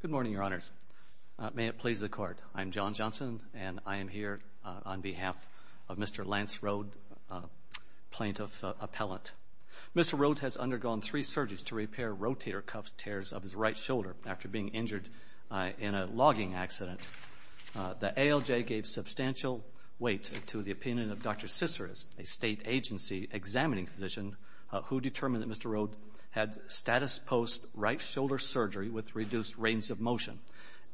Good morning, Your Honors. May it please the Court, I am John Johnson, and I am here on behalf of Mr. Lance Rhoades, Plaintiff Appellant. Mr. Rhoades has undergone three surgeries to repair rotator cuff tears of his right shoulder after being injured in a logging accident. The ALJ gave substantial weight to the opinion of Dr. Ciceres, a state agency examining physician who determined that Mr. Rhoades had status post right shoulder surgery with reduced range of motion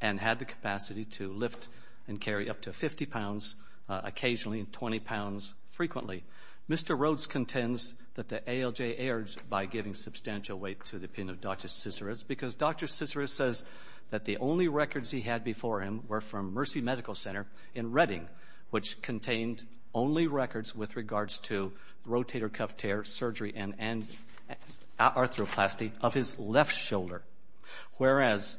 and had the capacity to lift and carry up to 50 pounds occasionally and 20 pounds frequently. Mr. Rhoades contends that the ALJ erred by giving substantial weight to the opinion of Dr. Ciceres because Dr. Ciceres says that the only records he had before him were from Mercy Medical Center in Reading, which contained only records with regards to rotator cuff tear surgery and arthroplasty of his left shoulder, whereas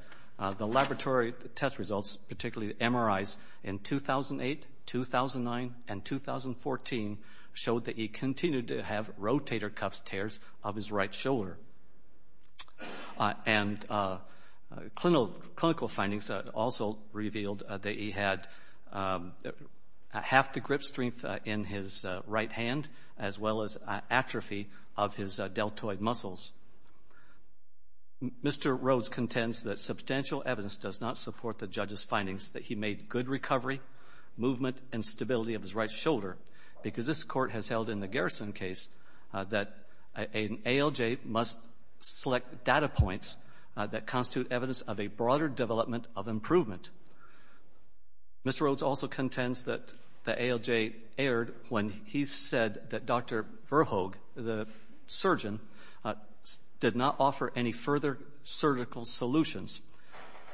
the laboratory test results, particularly the MRIs in 2008, 2009, and 2014 showed that he continued to have rotator cuff tears of his right shoulder. And clinical findings also revealed that he had half the grip strength in his right hand as well as atrophy of his deltoid muscles. Mr. Rhoades contends that substantial evidence does not support the judge's findings that he made good recovery, movement, and stability of his right shoulder because this Court has held in the Garrison case that an ALJ must select data points that of improvement. Mr. Rhoades also contends that the ALJ erred when he said that Dr. Verhoeghe, the surgeon, did not offer any further surgical solutions,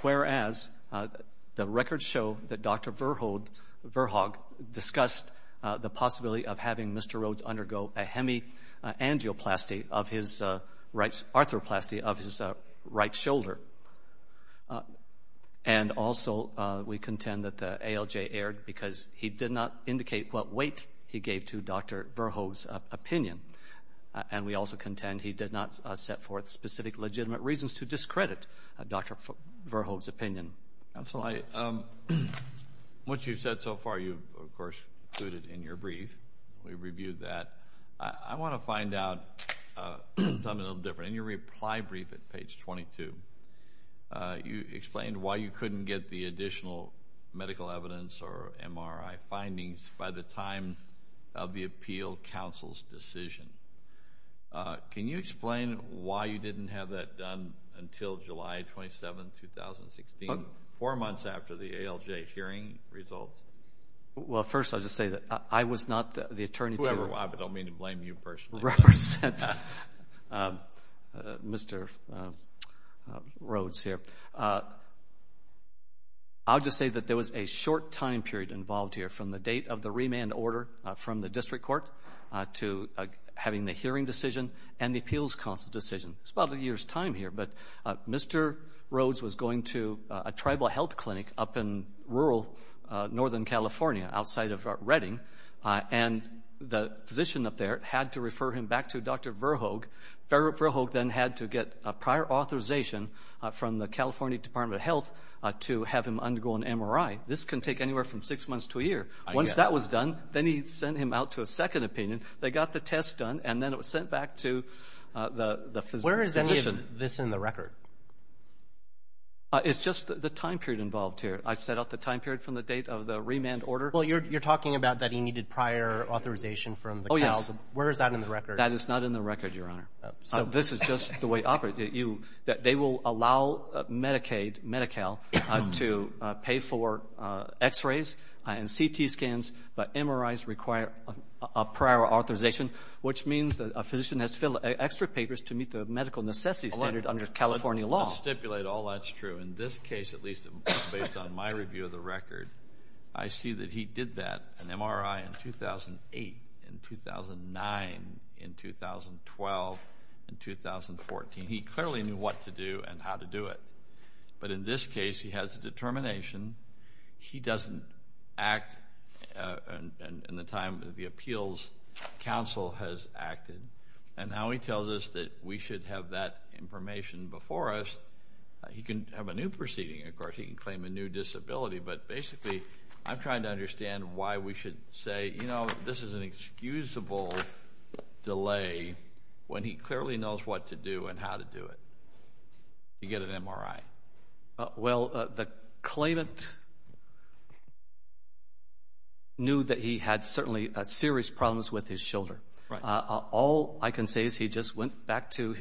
whereas the records show that Dr. Verhoeghe discussed the possibility of having Mr. Rhoades undergo a hemiangioplasty of his right shoulder. And also, we contend that the ALJ erred because he did not indicate what weight he gave to Dr. Verhoeghe's opinion. And we also contend he did not set forth specific legitimate reasons to discredit Dr. Verhoeghe's opinion. Counsel, what you've said so far, you of course included in your brief, we reviewed that. I want to find out something a little different. In your reply brief at page 22, you explained why you couldn't get the additional medical evidence or MRI findings by the time of the four months after the ALJ hearing results. Well, first I'll just say that I was not the attorney to represent Mr. Rhoades here. I'll just say that there was a short time period involved here from the date of the remand order from the District Court to having the hearing decision and the appeals counsel decision. It's about a year's time here, but Mr. Rhoades was going to a tribal health clinic up in rural northern California outside of Redding. And the physician up there had to refer him back to Dr. Verhoeghe. Verhoeghe then had to get a prior authorization from the California Department of Health to have him undergo an MRI. This can take anywhere from six months to a year. Once that was done, then he sent him out to a second opinion. They got the test done, and then it was sent back to the physician. Where is any of this in the record? It's just the time period involved here. I set out the time period from the date of the remand order. Well, you're talking about that he needed prior authorization from the Cals. Where is that in the record? That is not in the record, Your Honor. This is just the way it operates. They will allow Medicaid, Medi-Cal, to pay for x-rays and CT scans, but MRIs require a prior authorization, which means that a medical necessity standard under California law. Let me stipulate, all that's true. In this case, at least based on my review of the record, I see that he did that, an MRI in 2008, in 2009, in 2012, in 2014. He clearly knew what to do and how to do it. But in this case, he has a determination. He doesn't act in the time that the appeals counsel has acted. And now he tells us that we should have that information before us. He can have a new proceeding. Of course, he can claim a new disability. But basically, I'm trying to understand why we should say, you know, this is an excusable delay when he clearly knows what to do and how to do it. You get an MRI. Well, the claimant knew that he had certainly serious problems with his shoulder. All I can say is he just went back to,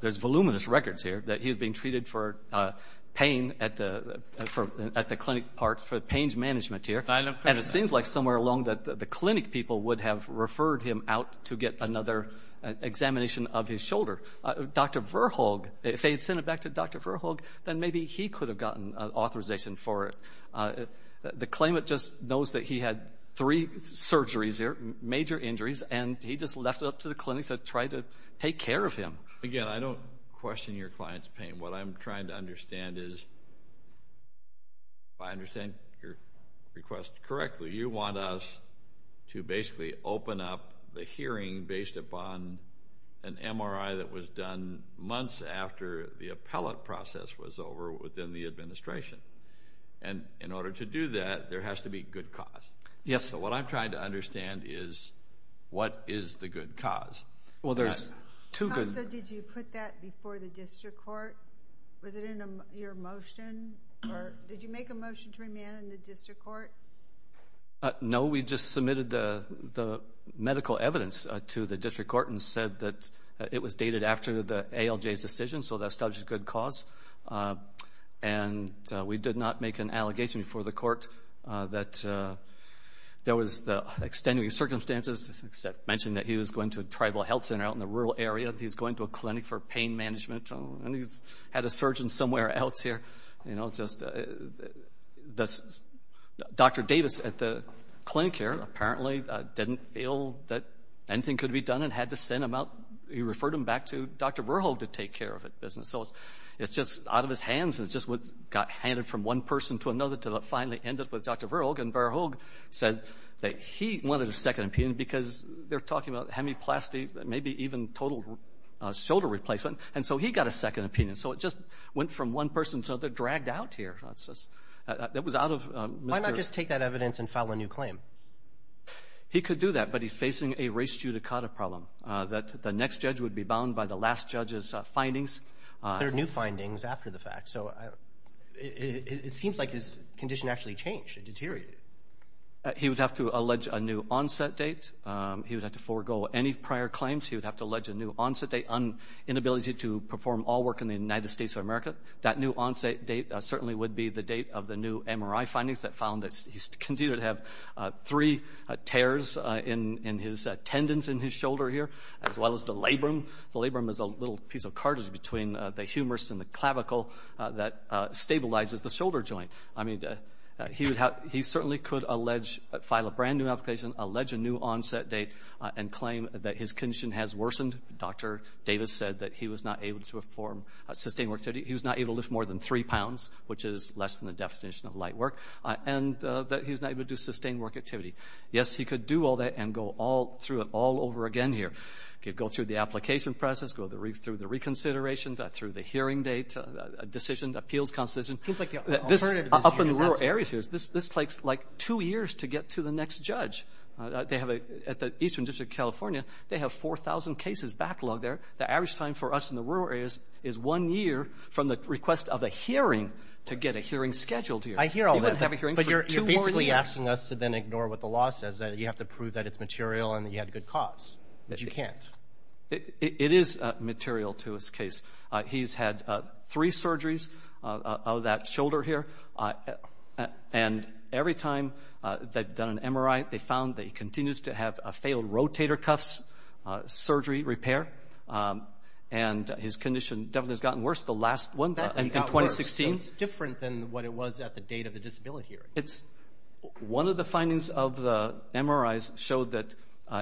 there's voluminous records here that he had been treated for pain at the clinic part, for pain management here. And it seems like somewhere along the clinic, people would have referred him out to get another examination of his shoulder. Dr. Verhoegh, if they had sent it back to Dr. Verhoegh, then maybe he could have gotten authorization for it. The claimant just knows that he had three surgeries here, major injuries, and he just left it up to the clinics to try to take care of him. Again, I don't question your client's pain. What I'm trying to understand is, if I understand your request correctly, you want us to basically open up the hearing based upon an MRI that was done months after the appellate process was over within the administration. And in trying to understand is, what is the good cause? Well, there's two good causes. Did you put that before the district court? Was it in your motion? Did you make a motion to remand in the district court? No, we just submitted the medical evidence to the district court and said that it was dated after the ALJ's decision, so that's a good cause. And we did not make an allegation before the court that there was the extenuating circumstances, except to mention that he was going to a tribal health center out in the rural area. He's going to a clinic for pain management, and he's had a surgeon somewhere else here. Dr. Davis at the clinic here apparently didn't feel that anything could be done and had to send him out. He referred him back to Dr. Verhoegh to take care of it. It's just out of his hands. It just got handed from one person to another until it finally ended with Dr. Verhoegh, and Verhoegh said that he wanted a second opinion because they're talking about hemiplasty, maybe even total shoulder replacement, and so he got a second opinion. So it just went from one person to another, dragged out here. That was out of Mr. Why not just take that evidence and file a new claim? He could do that, but he's facing a res judicata problem, that the next judge would be bound by the last judge's findings. There are new findings after the fact, so it seems like his condition actually changed and deteriorated. He would have to allege a new onset date. He would have to forego any prior claims. He would have to allege a new onset date, inability to perform all work in the United States of America. That new onset date certainly would be the date of the new MRI findings that found that he's continued to have three tears in his tendons in his shoulder here, as well as the labrum. The labrum is a little piece of cartilage between the humerus and the He certainly could file a brand new application, allege a new onset date, and claim that his condition has worsened. Dr. Davis said that he was not able to perform sustained work activity. He was not able to lift more than three pounds, which is less than the definition of light work, and that he was not able to do sustained work activity. Yes, he could do all that and go all through it all over again here. He could go through the application process, go through the reconsideration, through the hearing date, a decision, appeals constitution. Up in the rural areas here, this takes like two years to get to the next judge. At the Eastern District of California, they have 4,000 cases backlogged there. The average time for us in the rural areas is one year from the request of a hearing to get a hearing scheduled here. I hear all that, but you're basically asking us to then ignore what the law says, that you have to prove that it's material and that you had a good cause, but you can't. It is material to his case. He's had three surgeries of that shoulder here, and every time they've done an MRI, they found that he continues to have a failed rotator cuffs surgery repair, and his condition definitely has gotten worse. The last one in 2016. It's different than what it was at the date of the disability hearing. One of the findings of the MRIs showed that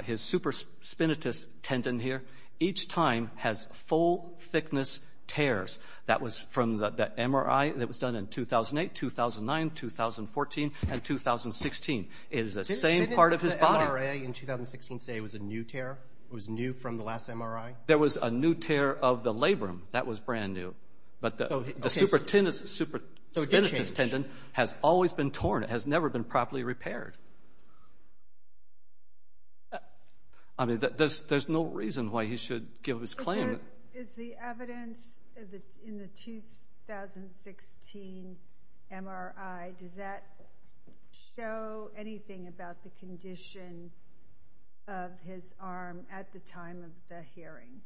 his supraspinatus tendon here, each time, has full thickness tears. That was from the MRI that was done in 2008, 2009, 2014, and 2016. It is the same part of his body. Didn't the MRI in 2016 say it was a new tear? It was new from the last MRI? There was a new tear of the labrum. That was brand new, but the supraspinatus tendon has always been torn. It has never been properly repaired. I mean, there's no reason why he should give his claim. Is the evidence in the 2016 MRI, does that show anything about the condition of his arm at the time of the hearing?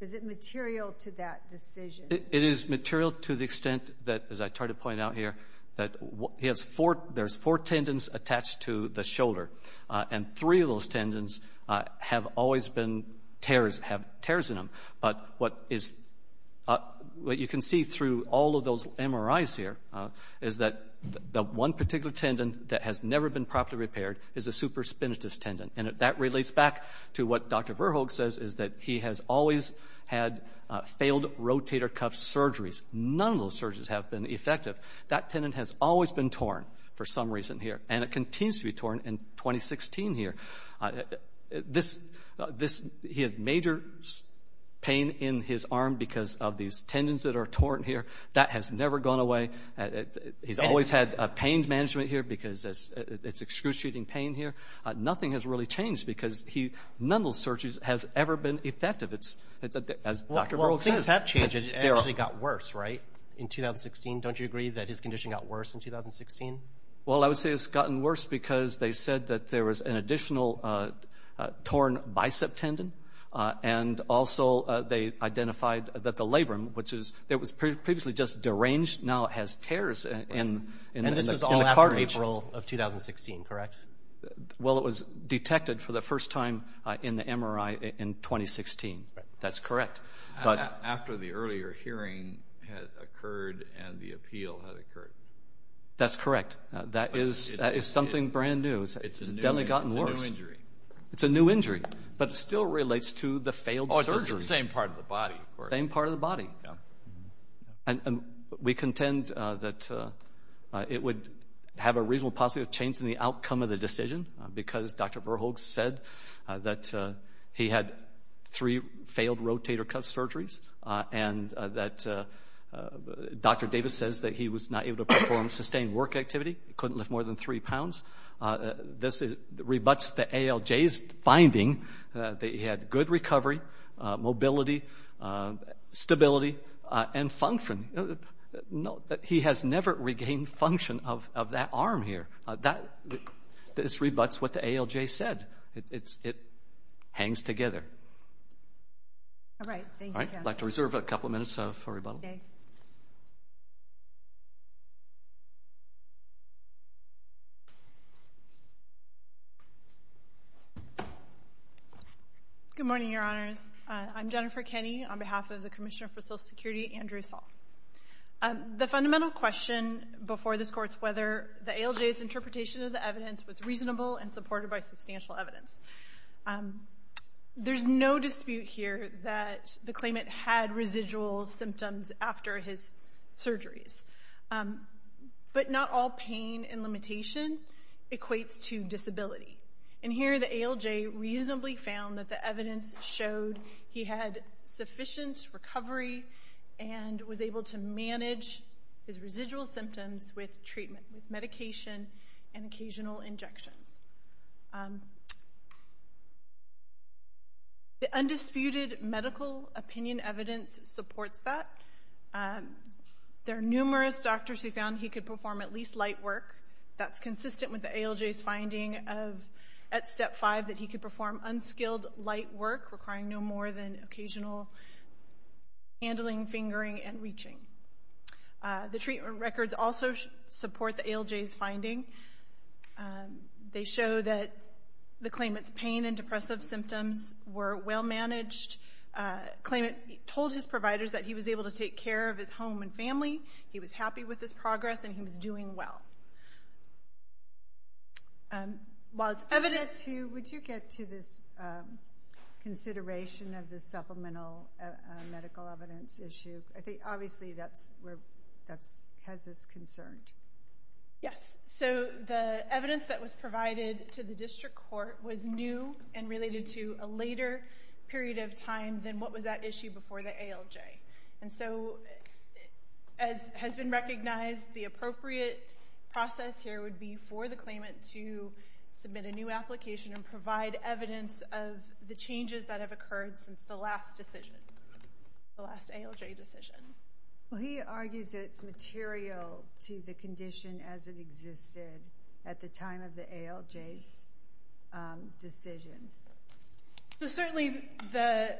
Is it material to that decision? It is material to the extent that, as I tried to point out here, that there's four tendons attached to the shoulder, and three of those tendons have always been tears, have tears in them, but what you can see through all of those MRIs here is that the one particular tendon that has never been properly repaired is the supraspinatus tendon, and that relates back to what Dr. Verhoek says is that he has always had failed rotator cuff surgeries. None of those surgeries have been effective. That tendon has always been torn for some reason here, and it continues to be torn in 2016 here. He had major pain in his arm because of these tendons that are torn here. That has never gone away. He's always had pain management here because it's excruciating pain here. Nothing has really changed because none of those surgeries have ever been effective, as Dr. Verhoek says. Well, things have changed. It actually got worse, right, in 2016? Don't you agree that his condition got worse in 2016? Well, I would say it's gotten worse because they said that there was an additional torn bicep tendon, and also they identified that the labrum, which was previously just deranged, now has tears in the cartilage. And this was all after April of 2016, correct? Well, it was detected for the first time in the MRI in 2016. That's correct. After the earlier hearing had occurred and the appeal had occurred. That's correct. That is something brand new. It's definitely gotten worse. It's a new injury. It's a new injury, but it still relates to the failed surgeries. Oh, it's the same part of the body, of course. Same part of the body. Yeah. And we contend that it would have a reasonable possibility of changing the outcome of the decision because Dr. Verhoek said that he had three failed rotator cuff surgeries and that Dr. Davis says that he was not able to perform sustained work activity. He couldn't lift more than three pounds. This rebuts the ALJ's finding that he had good recovery, mobility, stability, and function. He has never regained function of that arm here. This rebuts what the ALJ said. It hangs together. All right. Thank you, Cass. All right. I'd like to reserve a couple of minutes for rebuttal. Good morning, Your Honors. I'm Jennifer Kenney on behalf of the Commissioner for Social Security, Andrew Saul. The fundamental question before this court is whether the ALJ's interpretation of the evidence was reasonable and supported by substantial evidence. There's no dispute here that the claimant had residual symptoms after his surgeries, but not all pain and limitation equates to disability. Here, the ALJ reasonably found that the evidence showed he had sufficient recovery and was able to manage his residual symptoms with treatment, with medication, and occasional injections. The undisputed medical opinion evidence supports that. There are numerous doctors who found he could perform at least light work. That's consistent with the ALJ's finding at step five that he could perform unskilled light work requiring no more than occasional handling, fingering, and reaching. The treatment records also support the ALJ's finding. They show that the claimant's pain and depressive symptoms were well managed. The claimant told his providers that he was able to take care of his home and family. He was happy with his progress, and he was doing well. While it's evident to you, would you get to this consideration of the supplemental medical evidence issue? I think obviously that's where that has us concerned. Yes, so the evidence that was provided to the district court was new and related to a later period of time than what was at issue before the ALJ. And so, as has been recognized, the appropriate process here would be for the claimant to submit a new application and provide evidence of the changes that have occurred since the last decision, the last ALJ decision. Well, he argues that it's material to the condition as it existed at the time of the ALJ's decision. So certainly the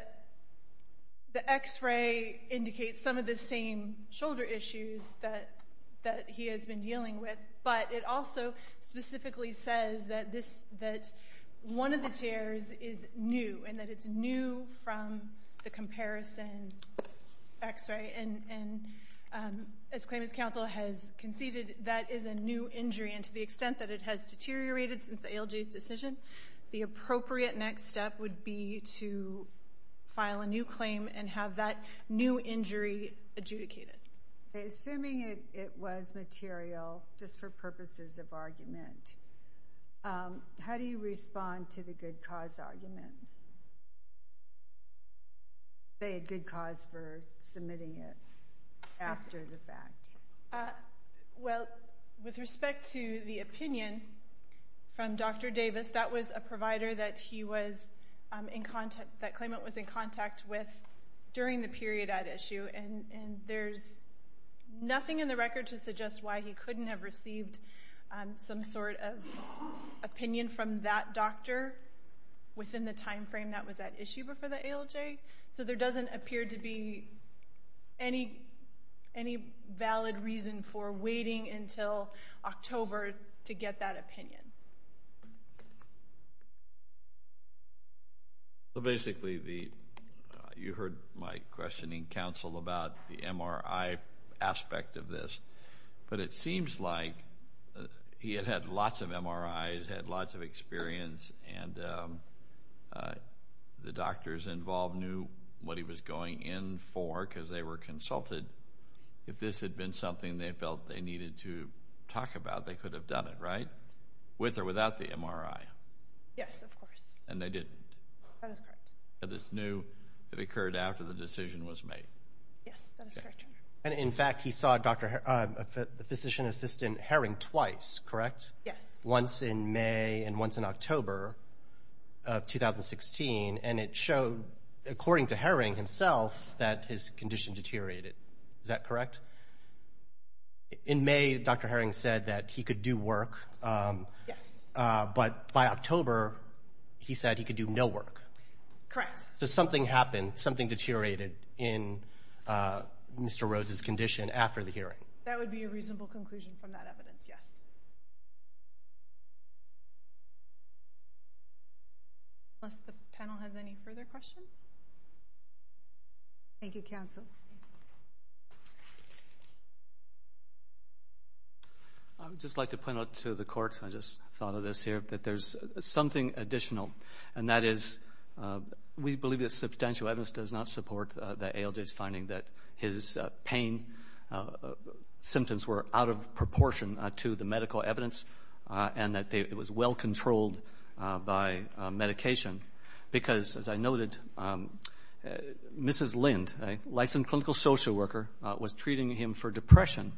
x-ray indicates some of the same shoulder issues that he has been dealing with, but it also specifically says that one of the tears is new, and that it's new from the comparison x-ray. And as claimant's counsel has conceded, that is a new injury. And to the the appropriate next step would be to file a new claim and have that new injury adjudicated. Assuming it was material just for purposes of argument, how do you respond to the good cause argument? Say a good cause for submitting it after the fact. Uh, well, with respect to the opinion from Dr. Davis, that was a provider that he was in contact, that claimant was in contact with during the period at issue. And there's nothing in the record to suggest why he couldn't have received some sort of opinion from that doctor within the time frame that was at issue before the ALJ. So there doesn't appear to be any valid reason for waiting until October to get that opinion. So basically, you heard my questioning, counsel, about the MRI aspect of this. But it seems like he had had lots of MRIs, had lots of experience, and the doctors involved knew what he was going in for, because they were consulted. If this had been something they felt they needed to talk about, they could have done it, right? With or without the MRI. Yes, of course. And they didn't? That is correct. They just knew it occurred after the decision was made? Yes, that is correct. And in fact, he saw the physician assistant Herring twice, correct? Yes. Once in May and once in October of 2016, and it showed, according to Herring himself, that his condition deteriorated. Is that correct? In May, Dr. Herring said that he could do work. Yes. But by October, he said he could do no work. Correct. So something happened, something deteriorated in Mr. Rose's condition after the hearing. That would be a reasonable conclusion from that evidence, yes. Unless the panel has any further questions? Thank you, counsel. I would just like to point out to the court, I just thought of this here, that there is something additional. And that is, we believe that substantial evidence does not support the ALJ's finding that his pain symptoms were out of proportion to the medical evidence and that it was well controlled by medication. Because, as I noted, Mrs. Lind, a licensed clinical social worker, was treating him for depression.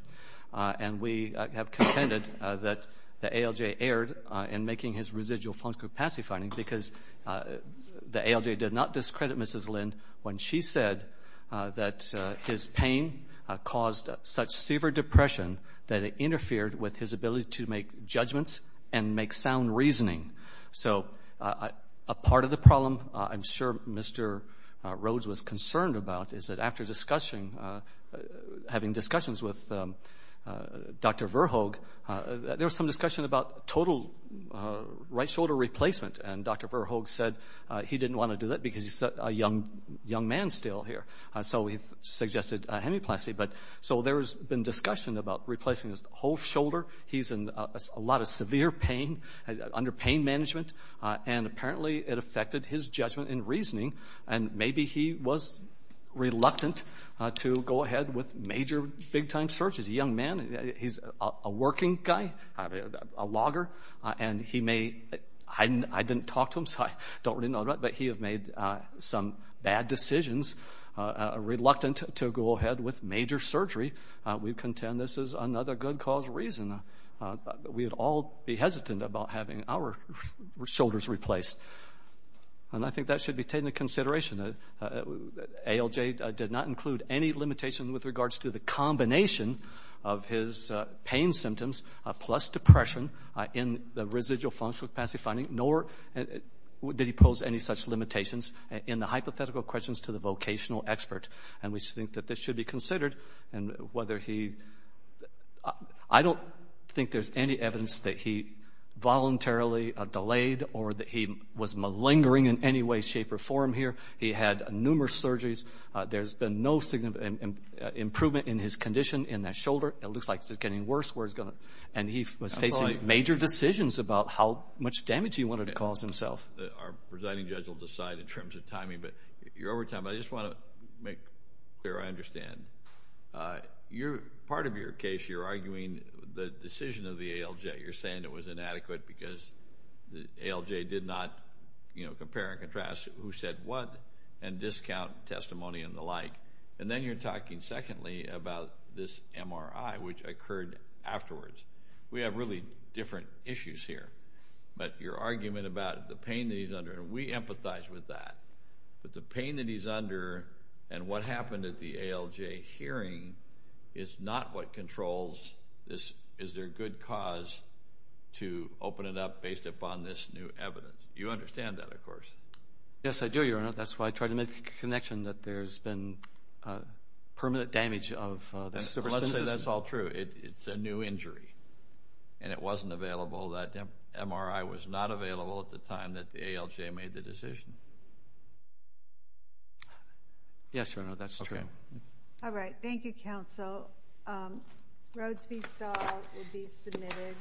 And we have contended that the ALJ erred in making his residual fungal capacity finding, because the ALJ did not discredit Mrs. Lind when she said that his pain caused such severe depression that it interfered with his ability to make judgments and make sound reasoning. So a part of the problem, I'm sure Mr. Rose was concerned about, is that after having discussions with Dr. Verhoegh, there was some discussion about total right shoulder replacement. And Dr. Verhoegh said he didn't want to do that because he's a young man still here. So he suggested hemiplasty. So there's been discussion about replacing his whole shoulder. He's in a lot of severe pain, under pain management, and apparently it affected his judgment and reasoning. And maybe he was reluctant to go ahead with major big-time searches. He's a young man. He's a working guy, a logger. And he may—I didn't talk to him, don't really know him, but he had made some bad decisions, reluctant to go ahead with major surgery. We contend this is another good cause reason. We'd all be hesitant about having our shoulders replaced. And I think that should be taken into consideration. ALJ did not include any limitation with regards to the combination of his pain symptoms plus depression in the residual function of passive finding, nor did he pose any such limitations in the hypothetical questions to the vocational expert. And we think that this should be considered. And whether he—I don't think there's any evidence that he voluntarily delayed or that he was malingering in any way, shape, or form here. He had numerous surgeries. There's been no improvement in his condition in that shoulder. It looks like it's getting worse where it's facing major decisions about how much damage he wanted to cause himself. Our presiding judge will decide in terms of timing, but you're over time. I just want to make clear I understand. Part of your case, you're arguing the decision of the ALJ. You're saying it was inadequate because the ALJ did not, you know, compare and contrast who said what and discount testimony and the like. And then you're talking secondly about this MRI, which occurred afterwards. We have really different issues here. But your argument about the pain that he's under—and we empathize with that—but the pain that he's under and what happened at the ALJ hearing is not what controls this. Is there good cause to open it up based upon this new evidence? You understand that, of course. Yes, I do, Your Honor. That's why I try to make connection that there's been permanent damage of the supraspinatus. Let's say that's all true. It's a new injury, and it wasn't available. That MRI was not available at the time that the ALJ made the decision. Yes, Your Honor, that's true. All right. Thank you, counsel. Rhodes v. Stahl will be submitted.